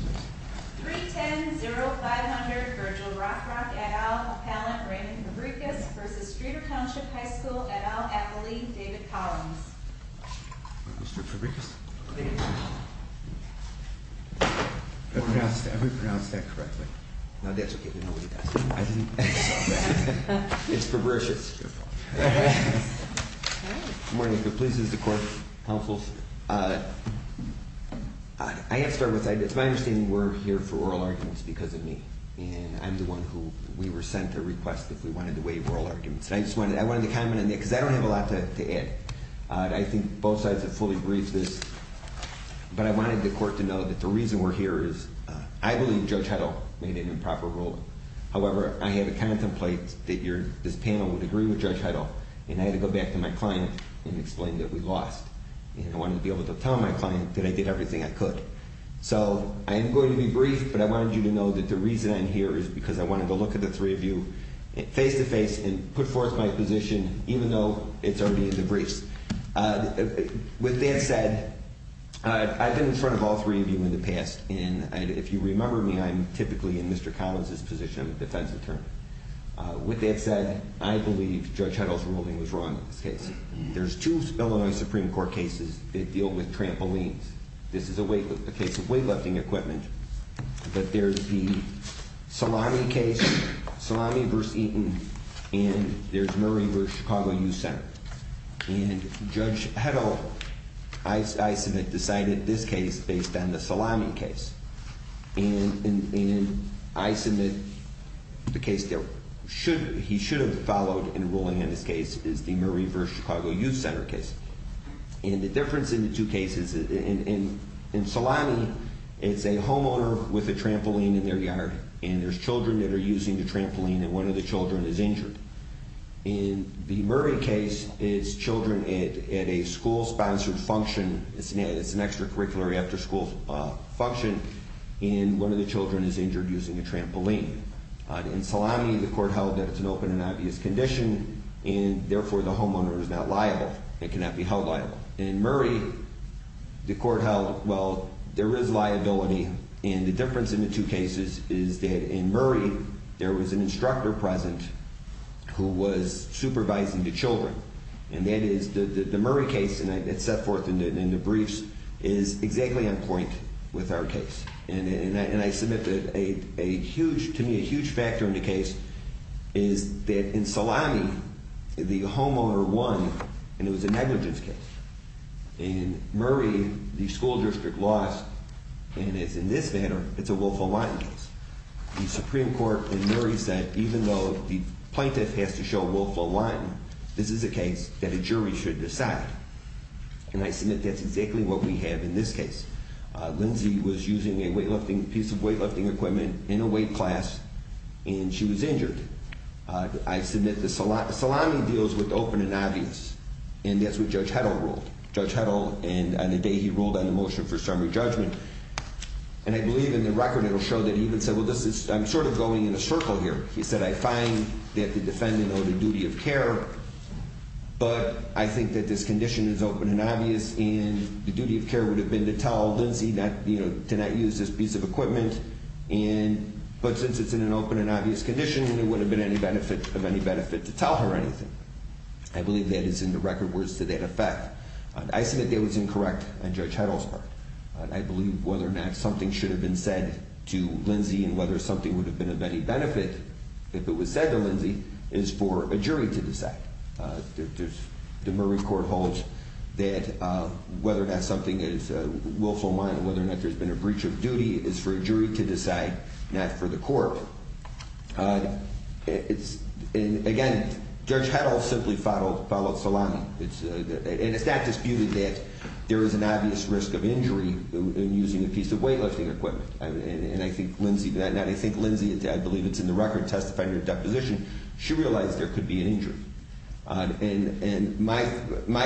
310-0500 Virgil Rockrock et al. appellant Raymond Fabrikas v. Streator Township High School et al. athlete David Collins Mr. Fabrikas? Thank you. Have we pronounced that correctly? No, that's okay. Nobody does that. I didn't... It's Fabrikas. It's your fault. Good morning. Please use the court counsel seat. I have to start with, it's my understanding we're here for oral arguments because of me. And I'm the one who we were sent a request if we wanted to waive oral arguments. And I just wanted to comment on that because I don't have a lot to add. I think both sides have fully agreed to this. But I wanted the court to know that the reason we're here is I believe Judge Heddle made an improper ruling. However, I had to contemplate that this panel would agree with Judge Heddle. And I had to go back to my client and explain that we lost. And I wanted to be able to tell my client that I did everything I could. So I am going to be brief, but I wanted you to know that the reason I'm here is because I wanted to look at the three of you face-to-face and put forth my position even though it's already in the briefs. With that said, I've been in front of all three of you in the past. And if you remember me, I'm typically in Mr. Collins' position of a defense attorney. With that said, I believe Judge Heddle's ruling was wrong in this case. There's two Illinois Supreme Court cases that deal with trampolines. This is a case of weightlifting equipment. But there's the Salami case, Salami v. Eaton, and there's Murray v. Chicago Youth Center. And Judge Heddle, I submit, decided this case based on the Salami case. And I submit the case that he should have followed in ruling in this case is the Murray v. Chicago Youth Center case. And the difference in the two cases, in Salami, it's a homeowner with a trampoline in their yard. And there's children that are using the trampoline, and one of the children is injured. In the Murray case, it's children at a school-sponsored function. It's an extracurricular after-school function, and one of the children is injured using a trampoline. In Salami, the court held that it's an open and obvious condition, and therefore the homeowner is not liable. It cannot be held liable. In Murray, the court held, well, there is liability. And the difference in the two cases is that in Murray, there was an instructor present who was supervising the children. And that is the Murray case, and it's set forth in the briefs, is exactly on point with our case. And I submit that a huge, to me, a huge factor in the case is that in Salami, the homeowner won, and it was a negligence case. In Murray, the school district lost, and it's in this manner, it's a willful lying case. The Supreme Court in Murray said, even though the plaintiff has to show willful lying, this is a case that a jury should decide. And I submit that's exactly what we have in this case. Lindsey was using a piece of weightlifting equipment in a weight class, and she was injured. I submit that Salami deals with open and obvious, and that's what Judge Heddle ruled. Judge Heddle, and on the day he ruled on the motion for summary judgment. And I believe in the record, it'll show that he even said, well, I'm sort of going in a circle here. He said, I find that the defendant owed a duty of care, but I think that this condition is open and obvious. And the duty of care would have been to tell Lindsey to not use this piece of equipment. But since it's in an open and obvious condition, it wouldn't have been of any benefit to tell her anything. I believe that is in the record where it's to that effect. I submit that was incorrect on Judge Heddle's part. I believe whether or not something should have been said to Lindsey and whether something would have been of any benefit, if it was said to Lindsey, is for a jury to decide. The Murray court holds that whether or not something is willful mind, whether or not there's been a breach of duty, is for a jury to decide, not for the court. Again, Judge Heddle simply followed Salami. And it's not disputed that there is an obvious risk of injury in using a piece of weightlifting equipment. And I think Lindsey, I believe it's in the record testifying to her deposition, she realized there could be an injury. And my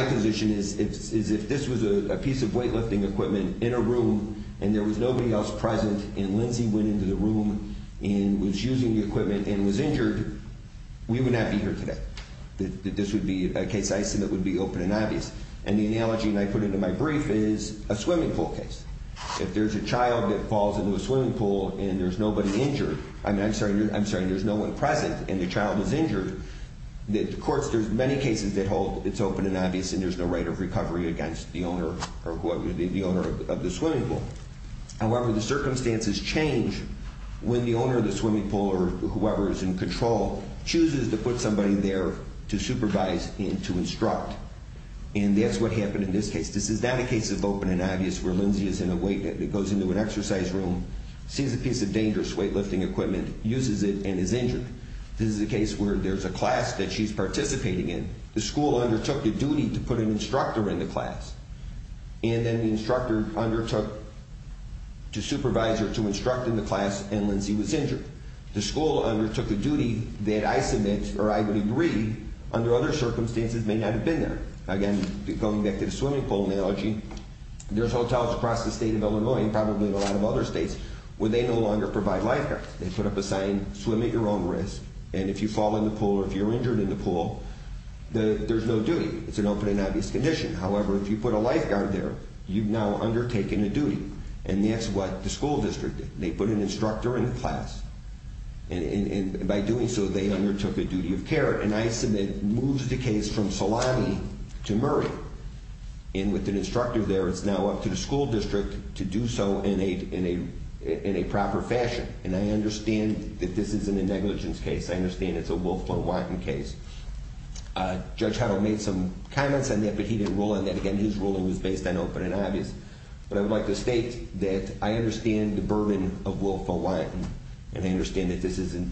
position is if this was a piece of weightlifting equipment in a room and there was nobody else present and Lindsey went into the room and was using the equipment and was injured, we would not be here today. This would be a case I submit would be open and obvious. And the analogy I put into my brief is a swimming pool case. If there's a child that falls into a swimming pool and there's nobody injured, I'm sorry, there's no one present and the child is injured, the courts, there's many cases that hold it's open and obvious and there's no right of recovery against the owner of the swimming pool. However, the circumstances change when the owner of the swimming pool or whoever is in control chooses to put somebody there to supervise and to instruct. And that's what happened in this case. This is not a case of open and obvious where Lindsey is in a weight that goes into an exercise room, sees a piece of dangerous weightlifting equipment, uses it and is injured. This is a case where there's a class that she's participating in. The school undertook the duty to put an instructor in the class. And then the instructor undertook to supervise or to instruct in the class and Lindsey was injured. The school undertook a duty that I submit or I would agree under other circumstances may not have been there. Again, going back to the swimming pool analogy, there's hotels across the state of Illinois and probably in a lot of other states where they no longer provide lifeguards. They put up a sign, swim at your own risk, and if you fall in the pool or if you're injured in the pool, there's no duty. It's an open and obvious condition. However, if you put a lifeguard there, you've now undertaken a duty. And that's what the school district did. They put an instructor in the class. And by doing so, they undertook a duty of care. And I submit moves the case from Solani to Murray. And with an instructor there, it's now up to the school district to do so in a proper fashion. And I understand that this isn't a negligence case. I understand it's a Wilfred Watten case. Judge Heddle made some comments on that, but he didn't rule on that. Again, his ruling was based on open and obvious. But I would like to state that I understand the burden of Wilfred Watten and I understand that this isn't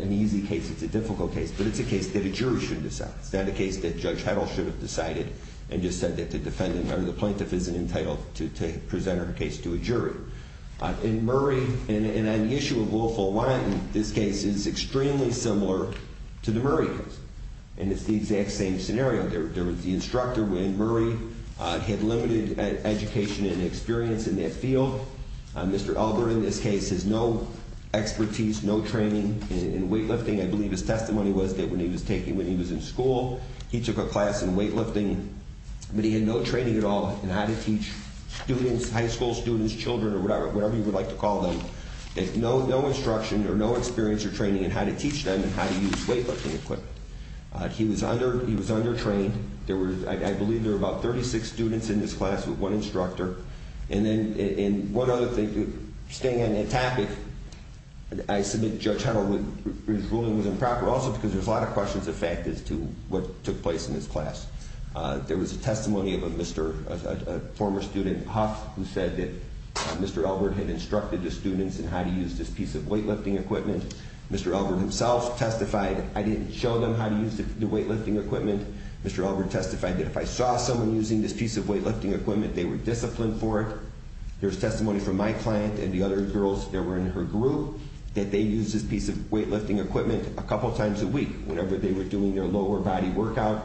an easy case. It's a difficult case. But it's a case that a jury should decide. It's not a case that Judge Heddle should have decided and just said that the plaintiff isn't entitled to present her case to a jury. And Murray, and on the issue of Wilfred Watten, this case is extremely similar to the Murray case. And it's the exact same scenario. There was the instructor when Murray had limited education and experience in that field. Mr. Elder in this case has no expertise, no training in weightlifting. I believe his testimony was that when he was taking, when he was in school, he took a class in weightlifting. But he had no training at all in how to teach students, high school students, children, or whatever you would like to call them. No instruction or no experience or training in how to teach them how to use weightlifting equipment. He was under-trained. I believe there were about 36 students in this class with one instructor. And then one other thing, staying on that topic, I submit Judge Heddle, his ruling was improper also because there's a lot of questions, in fact, as to what took place in this class. There was a testimony of a former student, Huff, who said that Mr. Elbert had instructed the students in how to use this piece of weightlifting equipment. Mr. Elbert himself testified, I didn't show them how to use the weightlifting equipment. Mr. Elbert testified that if I saw someone using this piece of weightlifting equipment, they were disciplined for it. There's testimony from my client and the other girls that were in her group that they used this piece of weightlifting equipment a couple times a week whenever they were doing their lower body workout.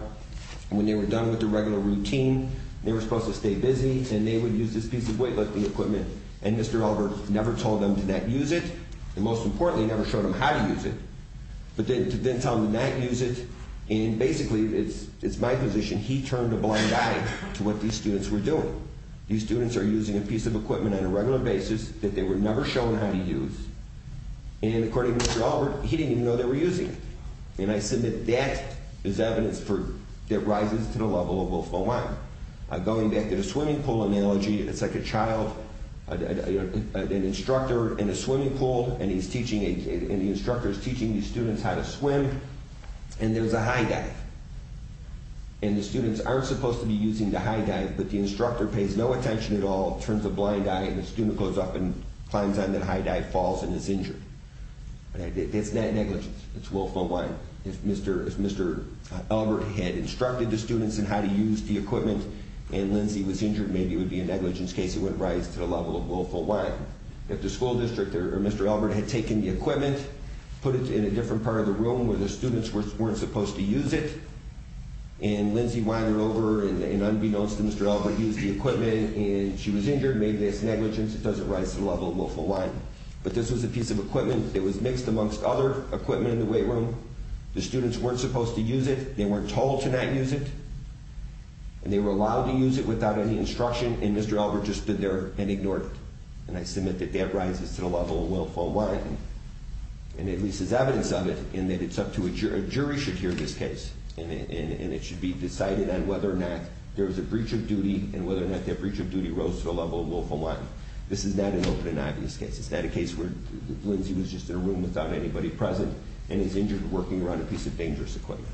When they were done with their regular routine, they were supposed to stay busy, and they would use this piece of weightlifting equipment. And Mr. Elbert never told them to not use it, and most importantly, never showed them how to use it. But then to tell them to not use it, and basically, it's my position, he turned a blind eye to what these students were doing. These students are using a piece of equipment on a regular basis that they were never shown how to use. And according to Mr. Elbert, he didn't even know they were using it. And I submit that as evidence that rises to the level of Wolf Mawine. Going back to the swimming pool analogy, it's like a child, an instructor in a swimming pool, and the instructor is teaching these students how to swim, and there's a high dive. And the students aren't supposed to be using the high dive, but the instructor pays no attention at all, turns a blind eye, and the student goes up and climbs on that high dive, falls, and is injured. It's not negligence, it's Wolf Mawine. If Mr. Elbert had instructed the students on how to use the equipment, and Lindsay was injured, maybe it would be a negligence in case it wouldn't rise to the level of Wolf Mawine. If the school district or Mr. Elbert had taken the equipment, put it in a different part of the room where the students weren't supposed to use it, and Lindsay winded it over, and unbeknownst to Mr. Elbert, used the equipment, and she was injured, maybe that's negligence, it doesn't rise to the level of Wolf Mawine. But this was a piece of equipment that was mixed amongst other equipment in the weight room, the students weren't supposed to use it, they weren't told to not use it, and they were allowed to use it without any instruction, and Mr. Elbert just stood there and ignored it. And I submit that that rises to the level of Wolf Mawine. And at least there's evidence of it, in that it's up to a jury, a jury should hear this case, and it should be decided on whether or not there was a breach of duty, and whether or not that breach of duty rose to the level of Wolf Mawine. This is not an open and obvious case, it's not a case where Lindsay was just in a room without anybody present, and is injured working around a piece of dangerous equipment.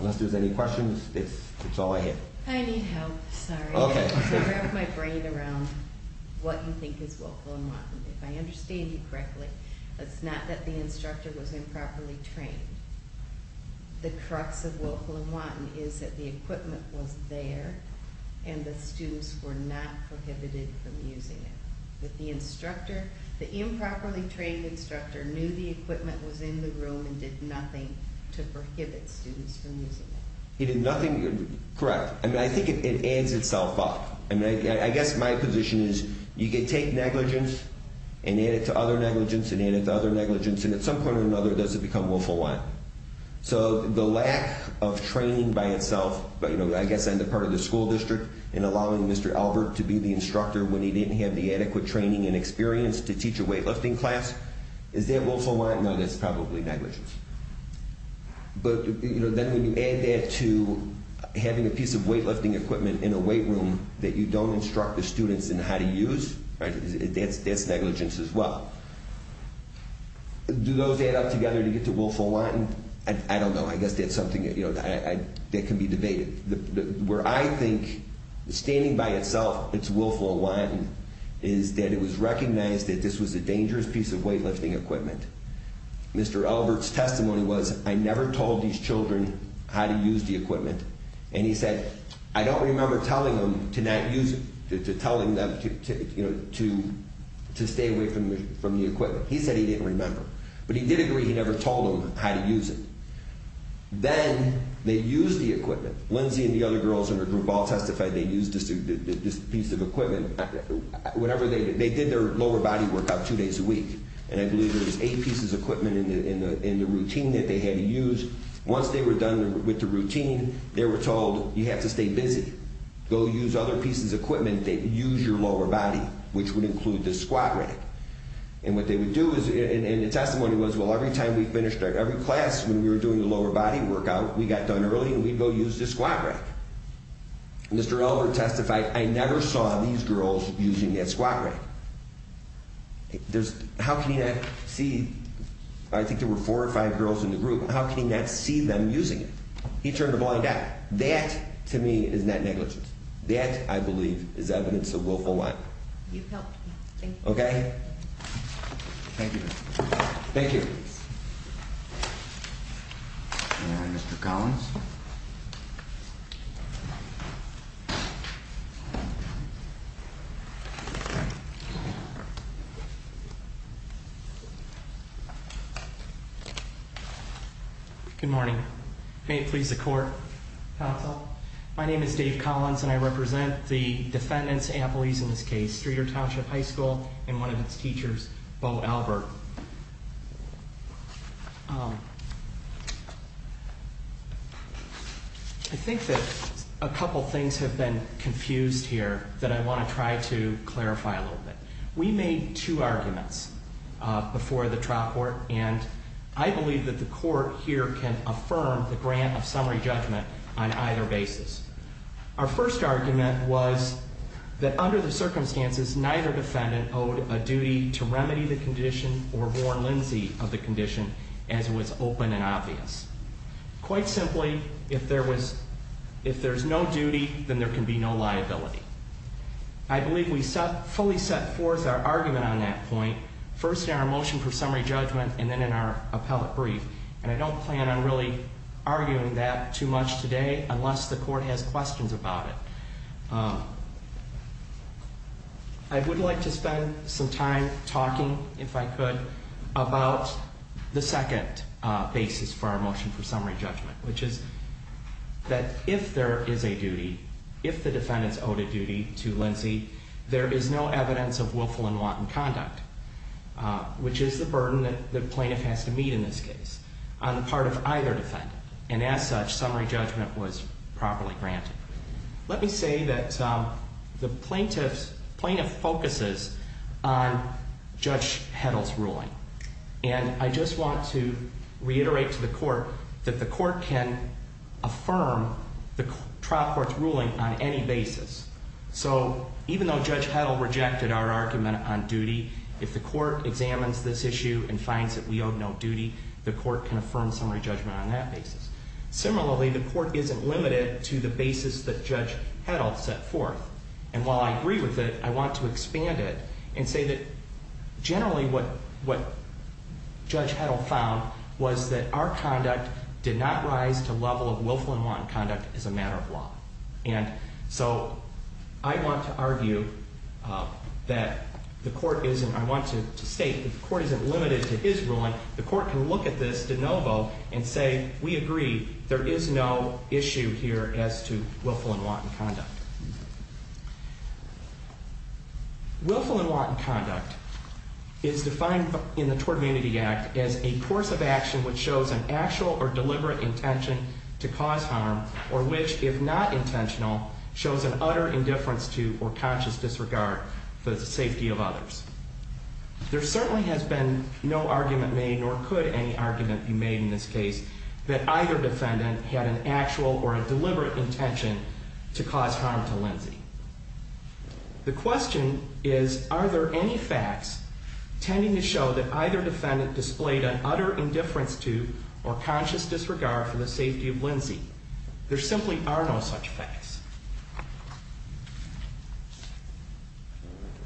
Unless there's any questions, it's all I have. I need help, sorry. Okay. I'm going to wrap my brain around what you think is Wolf Mawine. If I understand you correctly, it's not that the instructor was improperly trained. The crux of Wolf Mawine is that the equipment was there, and the students were not prohibited from using it. But the instructor, the improperly trained instructor knew the equipment was in the room and did nothing to prohibit students from using it. He did nothing, correct. I mean, I think it adds itself up. I mean, I guess my position is you can take negligence and add it to other negligence and add it to other negligence, and at some point or another does it become Wolf Mawine. So the lack of training by itself, I guess on the part of the school district, in allowing Mr. Albert to be the instructor when he didn't have the adequate training and experience to teach a weightlifting class, is that Wolf Mawine? No, that's probably negligence. But then when you add that to having a piece of weightlifting equipment in a weight room that you don't instruct the students in how to use, that's negligence as well. Do those add up together to get to Wolf Mawine? I don't know. I guess that's something that can be debated. Where I think, standing by itself, it's Wolf Mawine, is that it was recognized that this was a dangerous piece of weightlifting equipment. Mr. Albert's testimony was, I never told these children how to use the equipment. And he said, I don't remember telling them to stay away from the equipment. He said he didn't remember. But he did agree he never told them how to use it. Then they used the equipment. Lindsay and the other girls in her group all testified they used this piece of equipment. They did their lower body workout two days a week, and I believe there was eight pieces of equipment in the routine that they had used. Once they were done with the routine, they were told, you have to stay busy. Go use other pieces of equipment. Use your lower body, which would include this squat rack. And what they would do is, and the testimony was, well, every time we finished every class when we were doing the lower body workout, we got done early and we'd go use this squat rack. Mr. Albert testified, I never saw these girls using that squat rack. How can you not see, I think there were four or five girls in the group, and how can you not see them using it? He turned a blind eye. That, to me, is net negligence. That, I believe, is evidence of willful lying. You've helped me. Thank you. Okay? Thank you. Thank you. Thank you. And Mr. Collins? Good morning. May it please the Court, counsel. My name is Dave Collins, and I represent the defendant's employees in this case, Streeter Township High School, and one of its teachers, Bo Albert. I think that a couple things have been confused here that I want to try to clarify a little bit. We made two arguments before the trial court, and I believe that the court here can affirm the grant of summary judgment on either basis. Our first argument was that under the circumstances, neither defendant owed a duty to remedy the condition or warn Lindsay of the condition as it was open and obvious. Quite simply, if there's no duty, then there can be no liability. I believe we fully set forth our argument on that point, first in our motion for summary judgment and then in our appellate brief, and I don't plan on really arguing that too much today unless the court has questions about it. I would like to spend some time talking, if I could, about the second basis for our motion for summary judgment, which is that if there is a duty, if the defendant's owed a duty to Lindsay, there is no evidence of willful and wanton conduct, which is the burden that the plaintiff has to meet in this case on the part of either defendant, and as such, summary judgment was properly granted. Let me say that the plaintiff focuses on Judge Heddle's ruling, and I just want to reiterate to the court that the court can affirm the trial court's ruling on any basis. So even though Judge Heddle rejected our argument on duty, if the court examines this issue and finds that we owe no duty, the court can affirm summary judgment on that basis. Similarly, the court isn't limited to the basis that Judge Heddle set forth, and while I agree with it, I want to expand it and say that generally what Judge Heddle found was that our conduct did not rise to level of willful and wanton conduct as a matter of law. And so I want to argue that the court isn't, I want to state that the court isn't limited to his ruling. The court can look at this de novo and say, we agree, there is no issue here as to willful and wanton conduct. Willful and wanton conduct is defined in the Tort Immunity Act as a course of action which shows an actual or deliberate intention to cause harm or which, if not intentional, shows an utter indifference to or conscious disregard for the safety of others. There certainly has been no argument made, nor could any argument be made in this case, that either defendant had an actual or a deliberate intention to cause harm to Lindsay. The question is, are there any facts tending to show that either defendant displayed an utter indifference to or conscious disregard for the safety of Lindsay? There simply are no such facts.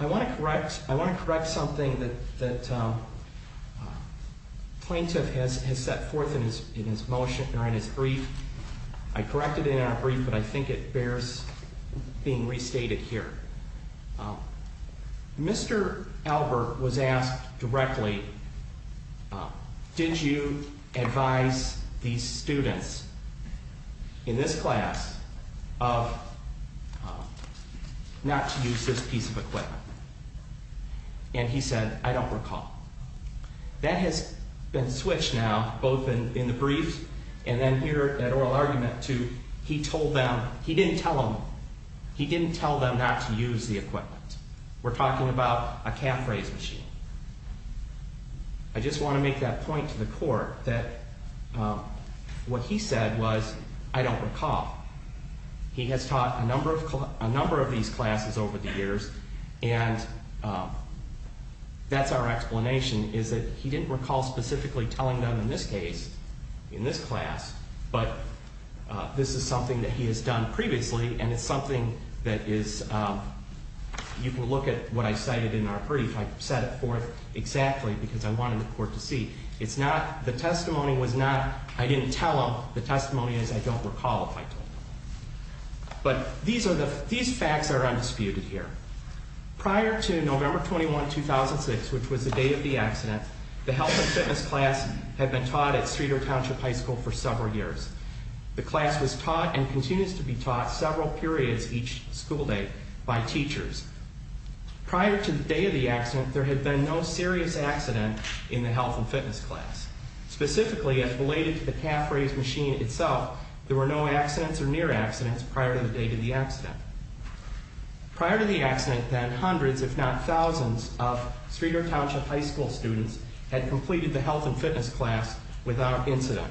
I want to correct something that Plaintiff has set forth in his motion, or in his brief. I corrected it in our brief, but I think it bears being restated here. Mr. Albert was asked directly, did you advise these students in this class of not to use this piece of equipment? And he said, I don't recall. That has been switched now, both in the brief and then here at oral argument, to he told them, he didn't tell them, he didn't tell them not to use the equipment. We're talking about a cap-raise machine. I just want to make that point to the Court that what he said was, I don't recall. He has taught a number of these classes over the years, and that's our explanation, is that he didn't recall specifically telling them in this case, in this class, but this is something that he has done previously, and it's something that is, you can look at what I cited in our brief. I set it forth exactly because I wanted the Court to see. The testimony was not, I didn't tell them. The testimony is, I don't recall if I told them. But these facts are undisputed here. Prior to November 21, 2006, which was the day of the accident, the health and fitness class had been taught at Streeter Township High School for several years. The class was taught and continues to be taught several periods each school day by teachers. Prior to the day of the accident, there had been no serious accident in the health and fitness class. Specifically, as related to the cap-raise machine itself, there were no accidents or near-accidents prior to the day of the accident. Prior to the accident, then, hundreds, if not thousands, of Streeter Township High School students had completed the health and fitness class without incident.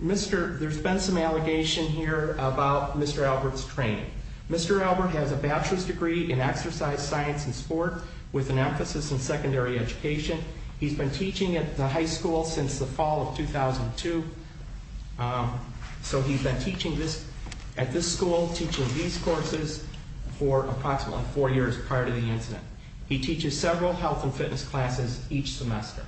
There's been some allegation here about Mr. Albert's training. Mr. Albert has a bachelor's degree in exercise science and sport with an emphasis in secondary education. He's been teaching at the high school since the fall of 2002. So he's been teaching this, at this school, teaching these courses for approximately four years prior to the incident. He teaches several health and fitness classes each semester.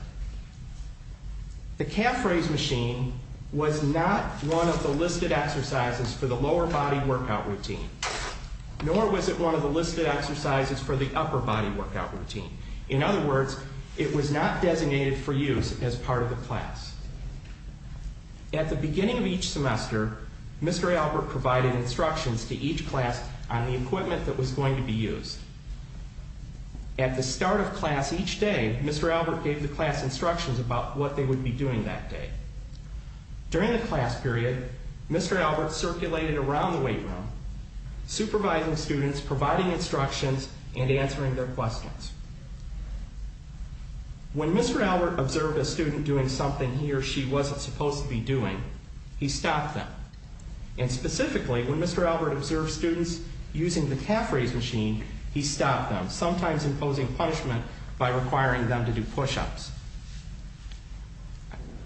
The cap-raise machine was not one of the listed exercises for the lower body workout routine, nor was it one of the listed exercises for the upper body workout routine. In other words, it was not designated for use as part of the class. At the beginning of each semester, Mr. Albert provided instructions to each class on the equipment that was going to be used. At the start of class each day, Mr. Albert gave the class instructions about what they would be doing that day. During the class period, Mr. Albert circulated around the weight room, supervising students, providing instructions, and answering their questions. When Mr. Albert observed a student doing something he or she wasn't supposed to be doing, he stopped them. And specifically, when Mr. Albert observed students using the cap-raise machine, he stopped them, sometimes imposing punishment by requiring them to do push-ups.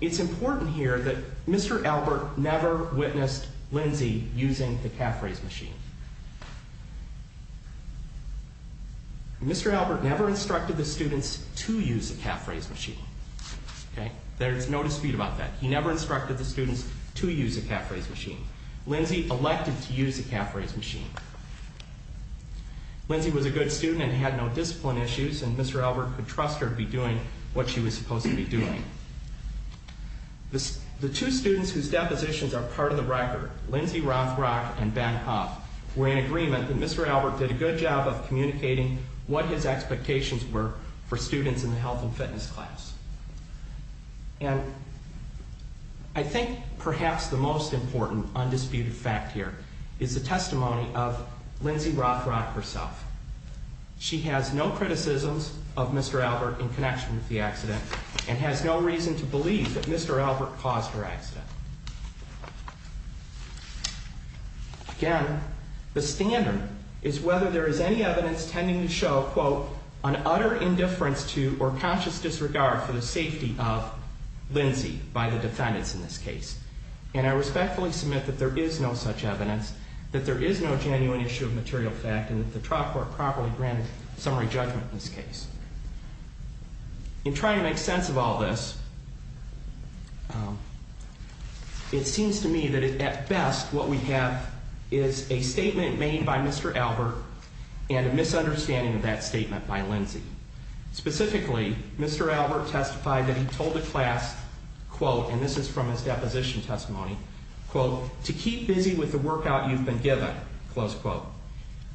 It's important here that Mr. Albert never witnessed Lindsay using the cap-raise machine. Mr. Albert never instructed the students to use the cap-raise machine. There's no dispute about that. He never instructed the students to use the cap-raise machine. Lindsay elected to use the cap-raise machine. Lindsay was a good student and had no discipline issues, and Mr. Albert could trust her to be doing what she was supposed to be doing. The two students whose depositions are part of the record, Lindsay Rothrock and Ben Hough, were in agreement that Mr. Albert did a good job of communicating what his expectations were for students in the health and fitness class. And I think perhaps the most important undisputed fact here is the testimony of Lindsay Rothrock herself. She has no criticisms of Mr. Albert in connection with the accident and has no reason to believe that Mr. Albert caused her accident. Again, the standard is whether there is any evidence tending to show, quote, an utter indifference to or conscious disregard for the safety of Lindsay by the defendants in this case. And I respectfully submit that there is no such evidence, that there is no genuine issue of material fact, and that the trial court properly granted summary judgment in this case. In trying to make sense of all this, it seems to me that at best what we have is a statement made by Mr. Albert and a misunderstanding of that statement by Lindsay. Specifically, Mr. Albert testified that he told the class, quote, and this is from his deposition testimony, quote, to keep busy with the workout you've been given, close quote.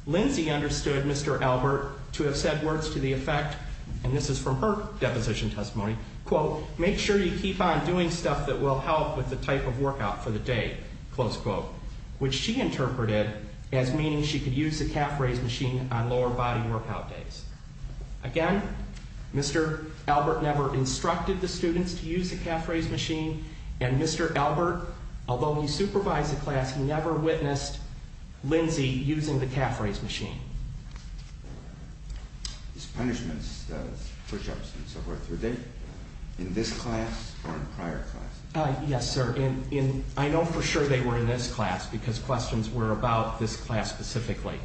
Lindsay understood Mr. Albert to have said words to the effect, and this is from her deposition testimony, quote, make sure you keep on doing stuff that will help with the type of workout for the day, close quote, which she interpreted as meaning she could use the calf raise machine on lower body workout days. Again, Mr. Albert never instructed the students to use the calf raise machine, and Mr. Albert, although he supervised the class, he never witnessed Lindsay using the calf raise machine. These punishments, the push-ups and so forth, were they in this class or in prior classes? Yes, sir. And I know for sure they were in this class because questions were about this class specifically.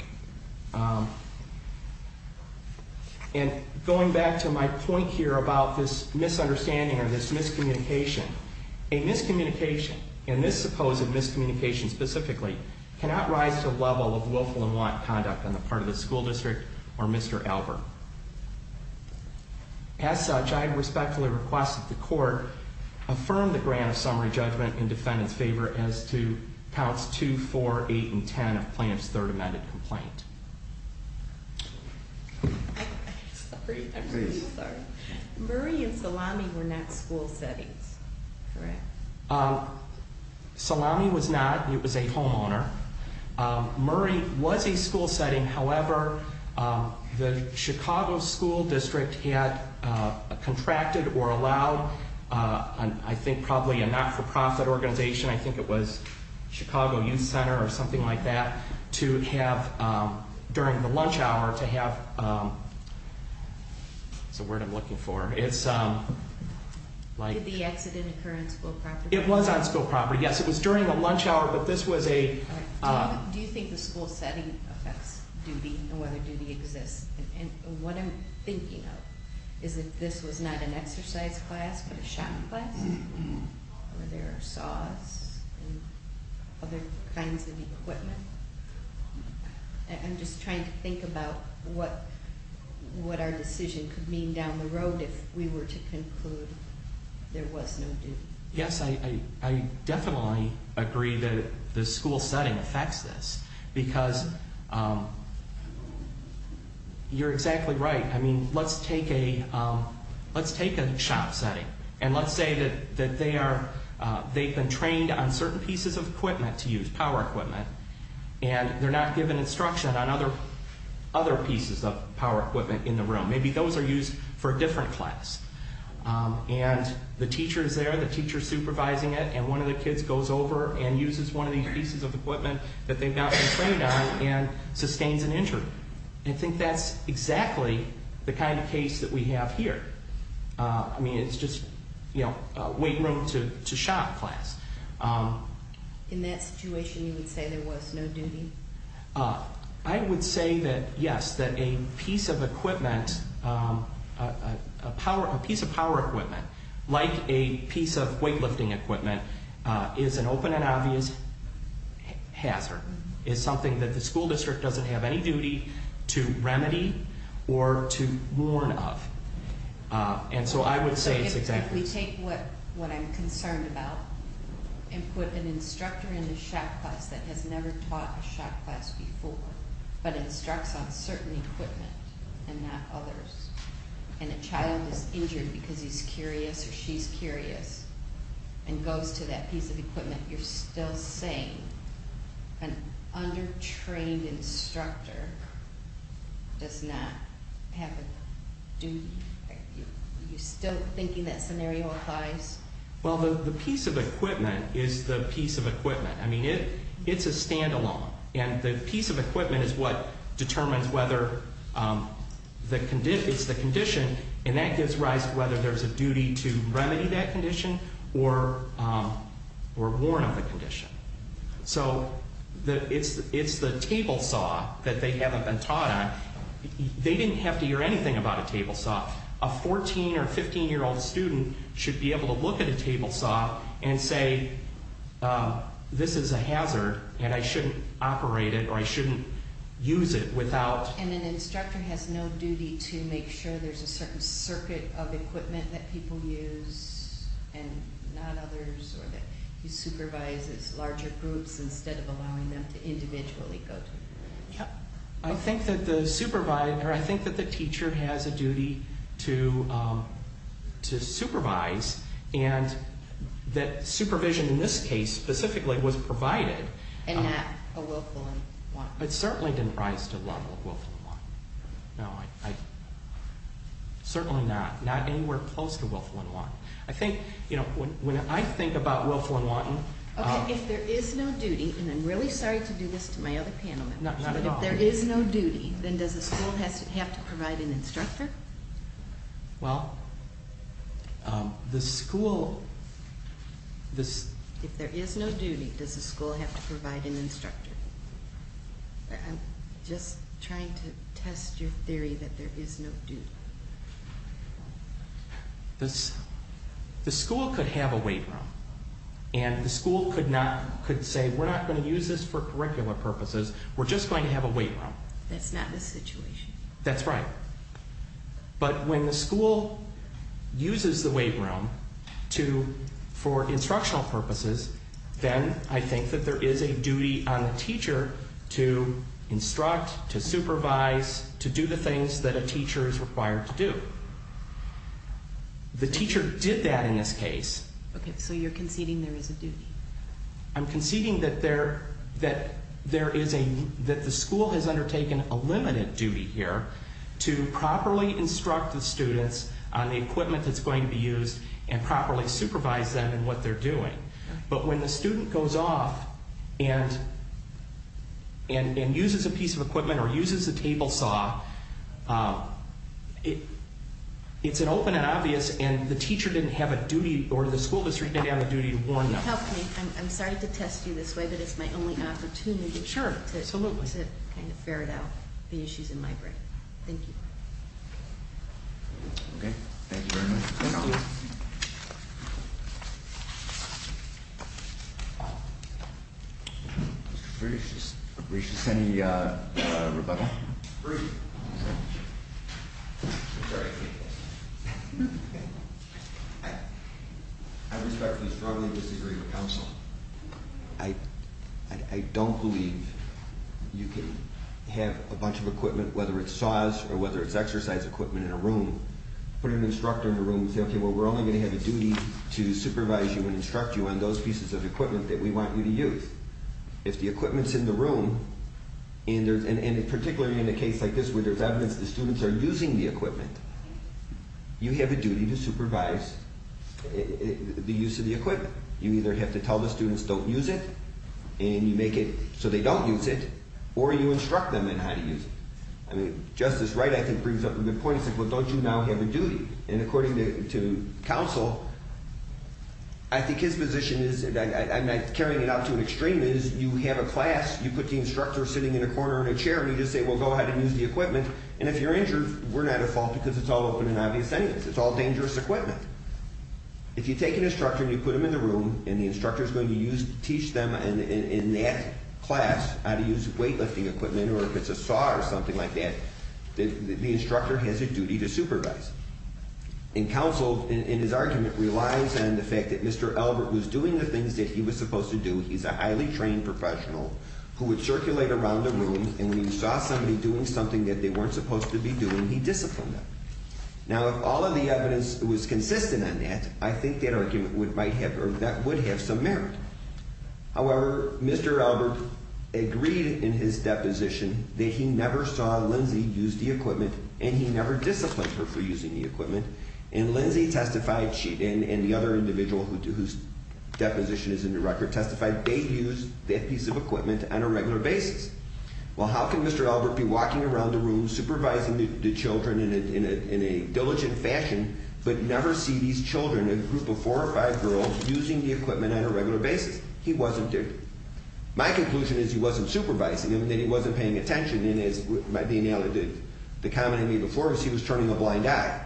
And going back to my point here about this misunderstanding or this miscommunication, a miscommunication, and this supposed miscommunication specifically, cannot rise to the level of willful and want conduct on the part of the school district or Mr. Albert. As such, I respectfully request that the court affirm the grant of summary judgment in defendant's favor as to counts 2, 4, 8, and 10 of plaintiff's third amended complaint. I'm sorry. Please. Murray and Salami were not school settings, correct? Salami was not. It was a homeowner. Murray was a school setting. However, the Chicago School District had contracted or allowed, I think, probably a not-for-profit organization. I think it was Chicago Youth Center or something like that to have, during the lunch hour, to have... What's the word I'm looking for? Did the accident occur on school property? It was on school property, yes. It was during the lunch hour, but this was a... Do you think the school setting affects duty and whether duty exists? And what I'm thinking of is that this was not an exercise class but a shopping class? Were there saws and other kinds of equipment? I'm just trying to think about what our decision could mean down the road if we were to conclude there was no duty. Yes, I definitely agree that the school setting affects this because you're exactly right. Let's take a shop setting and let's say that they've been trained on certain pieces of equipment to use, power equipment, and they're not given instruction on other pieces of power equipment in the room. Maybe those are used for a different class. And the teacher is there, the teacher is supervising it, and one of the kids goes over and uses one of these pieces of equipment that they've not been trained on and sustains an injury. I think that's exactly the kind of case that we have here. I mean, it's just weight room to shop class. In that situation, you would say there was no duty? I would say that, yes, that a piece of equipment, a piece of power equipment, like a piece of weightlifting equipment, is an open and obvious hazard. It's something that the school district doesn't have any duty to remedy or to warn of. And so I would say it's exactly- If we take what I'm concerned about and put an instructor in the shop class that has never taught a shop class before, but instructs on certain equipment and not others, and a child is injured because he's curious or she's curious and goes to that piece of equipment, you're still saying an under-trained instructor does not have a duty? You're still thinking that scenario applies? Well, the piece of equipment is the piece of equipment. I mean, it's a standalone, and the piece of equipment is what determines whether it's the condition, and that gives rise to whether there's a duty to remedy that condition or warn of the condition. So it's the table saw that they haven't been taught on. They didn't have to hear anything about a table saw. A 14- or 15-year-old student should be able to look at a table saw and say, this is a hazard and I shouldn't operate it or I shouldn't use it without- Is there a certain circuit of equipment that people use and not others, or that he supervises larger groups instead of allowing them to individually go to the shop? I think that the teacher has a duty to supervise, and that supervision in this case specifically was provided- And not a willful and want. It certainly didn't rise to the level of willful and want. No, certainly not. Not anywhere close to willful and want. I think when I think about willful and want- Okay, if there is no duty, and I'm really sorry to do this to my other panel members- Not at all. But if there is no duty, then does the school have to provide an instructor? Well, the school- If there is no duty, does the school have to provide an instructor? I'm just trying to test your theory that there is no duty. The school could have a weight room, and the school could say, we're not going to use this for curricular purposes, we're just going to have a weight room. That's not the situation. That's right. But when the school uses the weight room for instructional purposes, then I think that there is a duty on the teacher to instruct, to supervise, to do the things that a teacher is required to do. The teacher did that in this case. Okay, so you're conceding there is a duty. I'm conceding that the school has undertaken a limited duty here to properly instruct the students on the equipment that's going to be used and properly supervise them in what they're doing. But when the student goes off and uses a piece of equipment or uses a table saw, it's an open and obvious, and the teacher didn't have a duty, or the school district didn't have a duty to warn them. Help me, I'm sorry to test you this way, but it's my only opportunity- Sure, absolutely. To kind of ferret out the issues in my brain. Thank you. Okay, thank you very much. Thank you. Mr. Frisch, is there any rebuttal? Bruce. I respectfully strongly disagree with counsel. I don't believe you can have a bunch of equipment, whether it's saws or whether it's exercise equipment, in a room. Put an instructor in a room and say, okay, well, we're only going to have a duty to supervise you and instruct you on those pieces of equipment that we want you to use. If the equipment's in the room, and particularly in a case like this where there's evidence the students are using the equipment, you have a duty to supervise the use of the equipment. You either have to tell the students don't use it, and you make it so they don't use it, or you instruct them on how to use it. I mean, Justice Wright, I think, brings up a good point. He said, well, don't you now have a duty? And according to counsel, I think his position is, and I'm not carrying it out to an extreme, is you have a class, you put the instructor sitting in a corner in a chair, and you just say, well, go ahead and use the equipment. And if you're injured, we're not at fault because it's all open and obvious evidence. It's all dangerous equipment. If you take an instructor and you put him in the room, and the instructor's going to teach them in that class how to use weightlifting equipment or if it's a saw or something like that, the instructor has a duty to supervise. And counsel, in his argument, relies on the fact that Mr. Albert was doing the things that he was supposed to do. He's a highly trained professional who would circulate around the room, and when he saw somebody doing something that they weren't supposed to be doing, he disciplined them. Now, if all of the evidence was consistent on that, I think that argument would have some merit. However, Mr. Albert agreed in his deposition that he never saw Lindsay use the equipment, and he never disciplined her for using the equipment. And Lindsay testified, and the other individual whose deposition is in the record testified, they used that piece of equipment on a regular basis. Well, how can Mr. Albert be walking around the room supervising the children in a diligent fashion but never see these children, a group of four or five girls, using the equipment on a regular basis? He wasn't there. My conclusion is he wasn't supervising them, that he wasn't paying attention, and the comment I made before was he was turning a blind eye.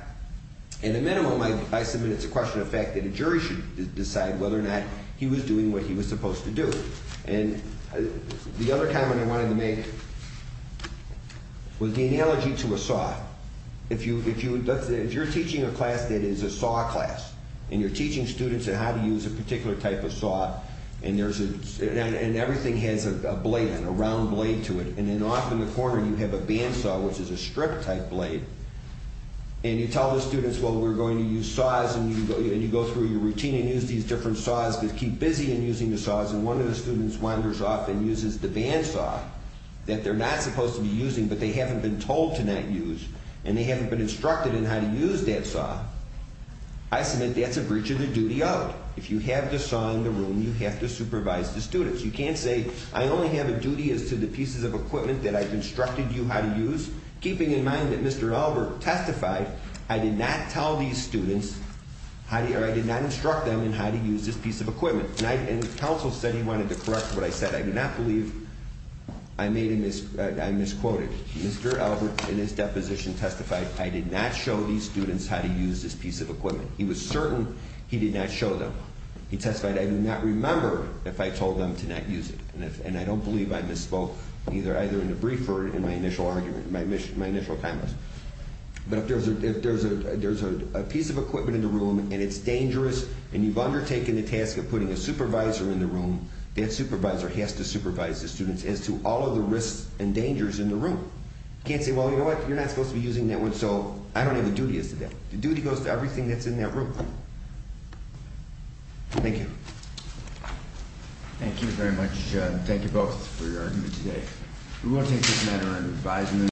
At a minimum, I submit it's a question of fact that a jury should decide whether or not he was doing what he was supposed to do. And the other comment I wanted to make was the analogy to a saw. If you're teaching a class that is a saw class, and you're teaching students how to use a particular type of saw, and everything has a blade, a round blade to it, and then off in the corner you have a bandsaw, which is a strip-type blade, and you tell the students, well, we're going to use saws, and you go through your routine and use these different saws because you keep busy in using the saws, and one of the students wanders off and uses the bandsaw that they're not supposed to be using but they haven't been told to not use, and they haven't been instructed in how to use that saw, I submit that's a breach of the duty of it. You have to supervise the students. You can't say I only have a duty as to the pieces of equipment that I've instructed you how to use, keeping in mind that Mr. Albert testified I did not tell these students or I did not instruct them in how to use this piece of equipment. And counsel said he wanted to correct what I said. I do not believe I made a misquote. Mr. Albert, in his deposition, testified I did not show these students how to use this piece of equipment. He was certain he did not show them. He testified I do not remember if I told them to not use it, and I don't believe I misspoke either in the briefer or in my initial argument, my initial comments. But if there's a piece of equipment in the room and it's dangerous and you've undertaken the task of putting a supervisor in the room, that supervisor has to supervise the students as to all of the risks and dangers in the room. You can't say, well, you know what, you're not supposed to be using that one, so I don't have a duty as to that. The duty goes to everything that's in that room. Thank you. Thank you very much. Thank you both for your argument today. We will take this matter under advisement.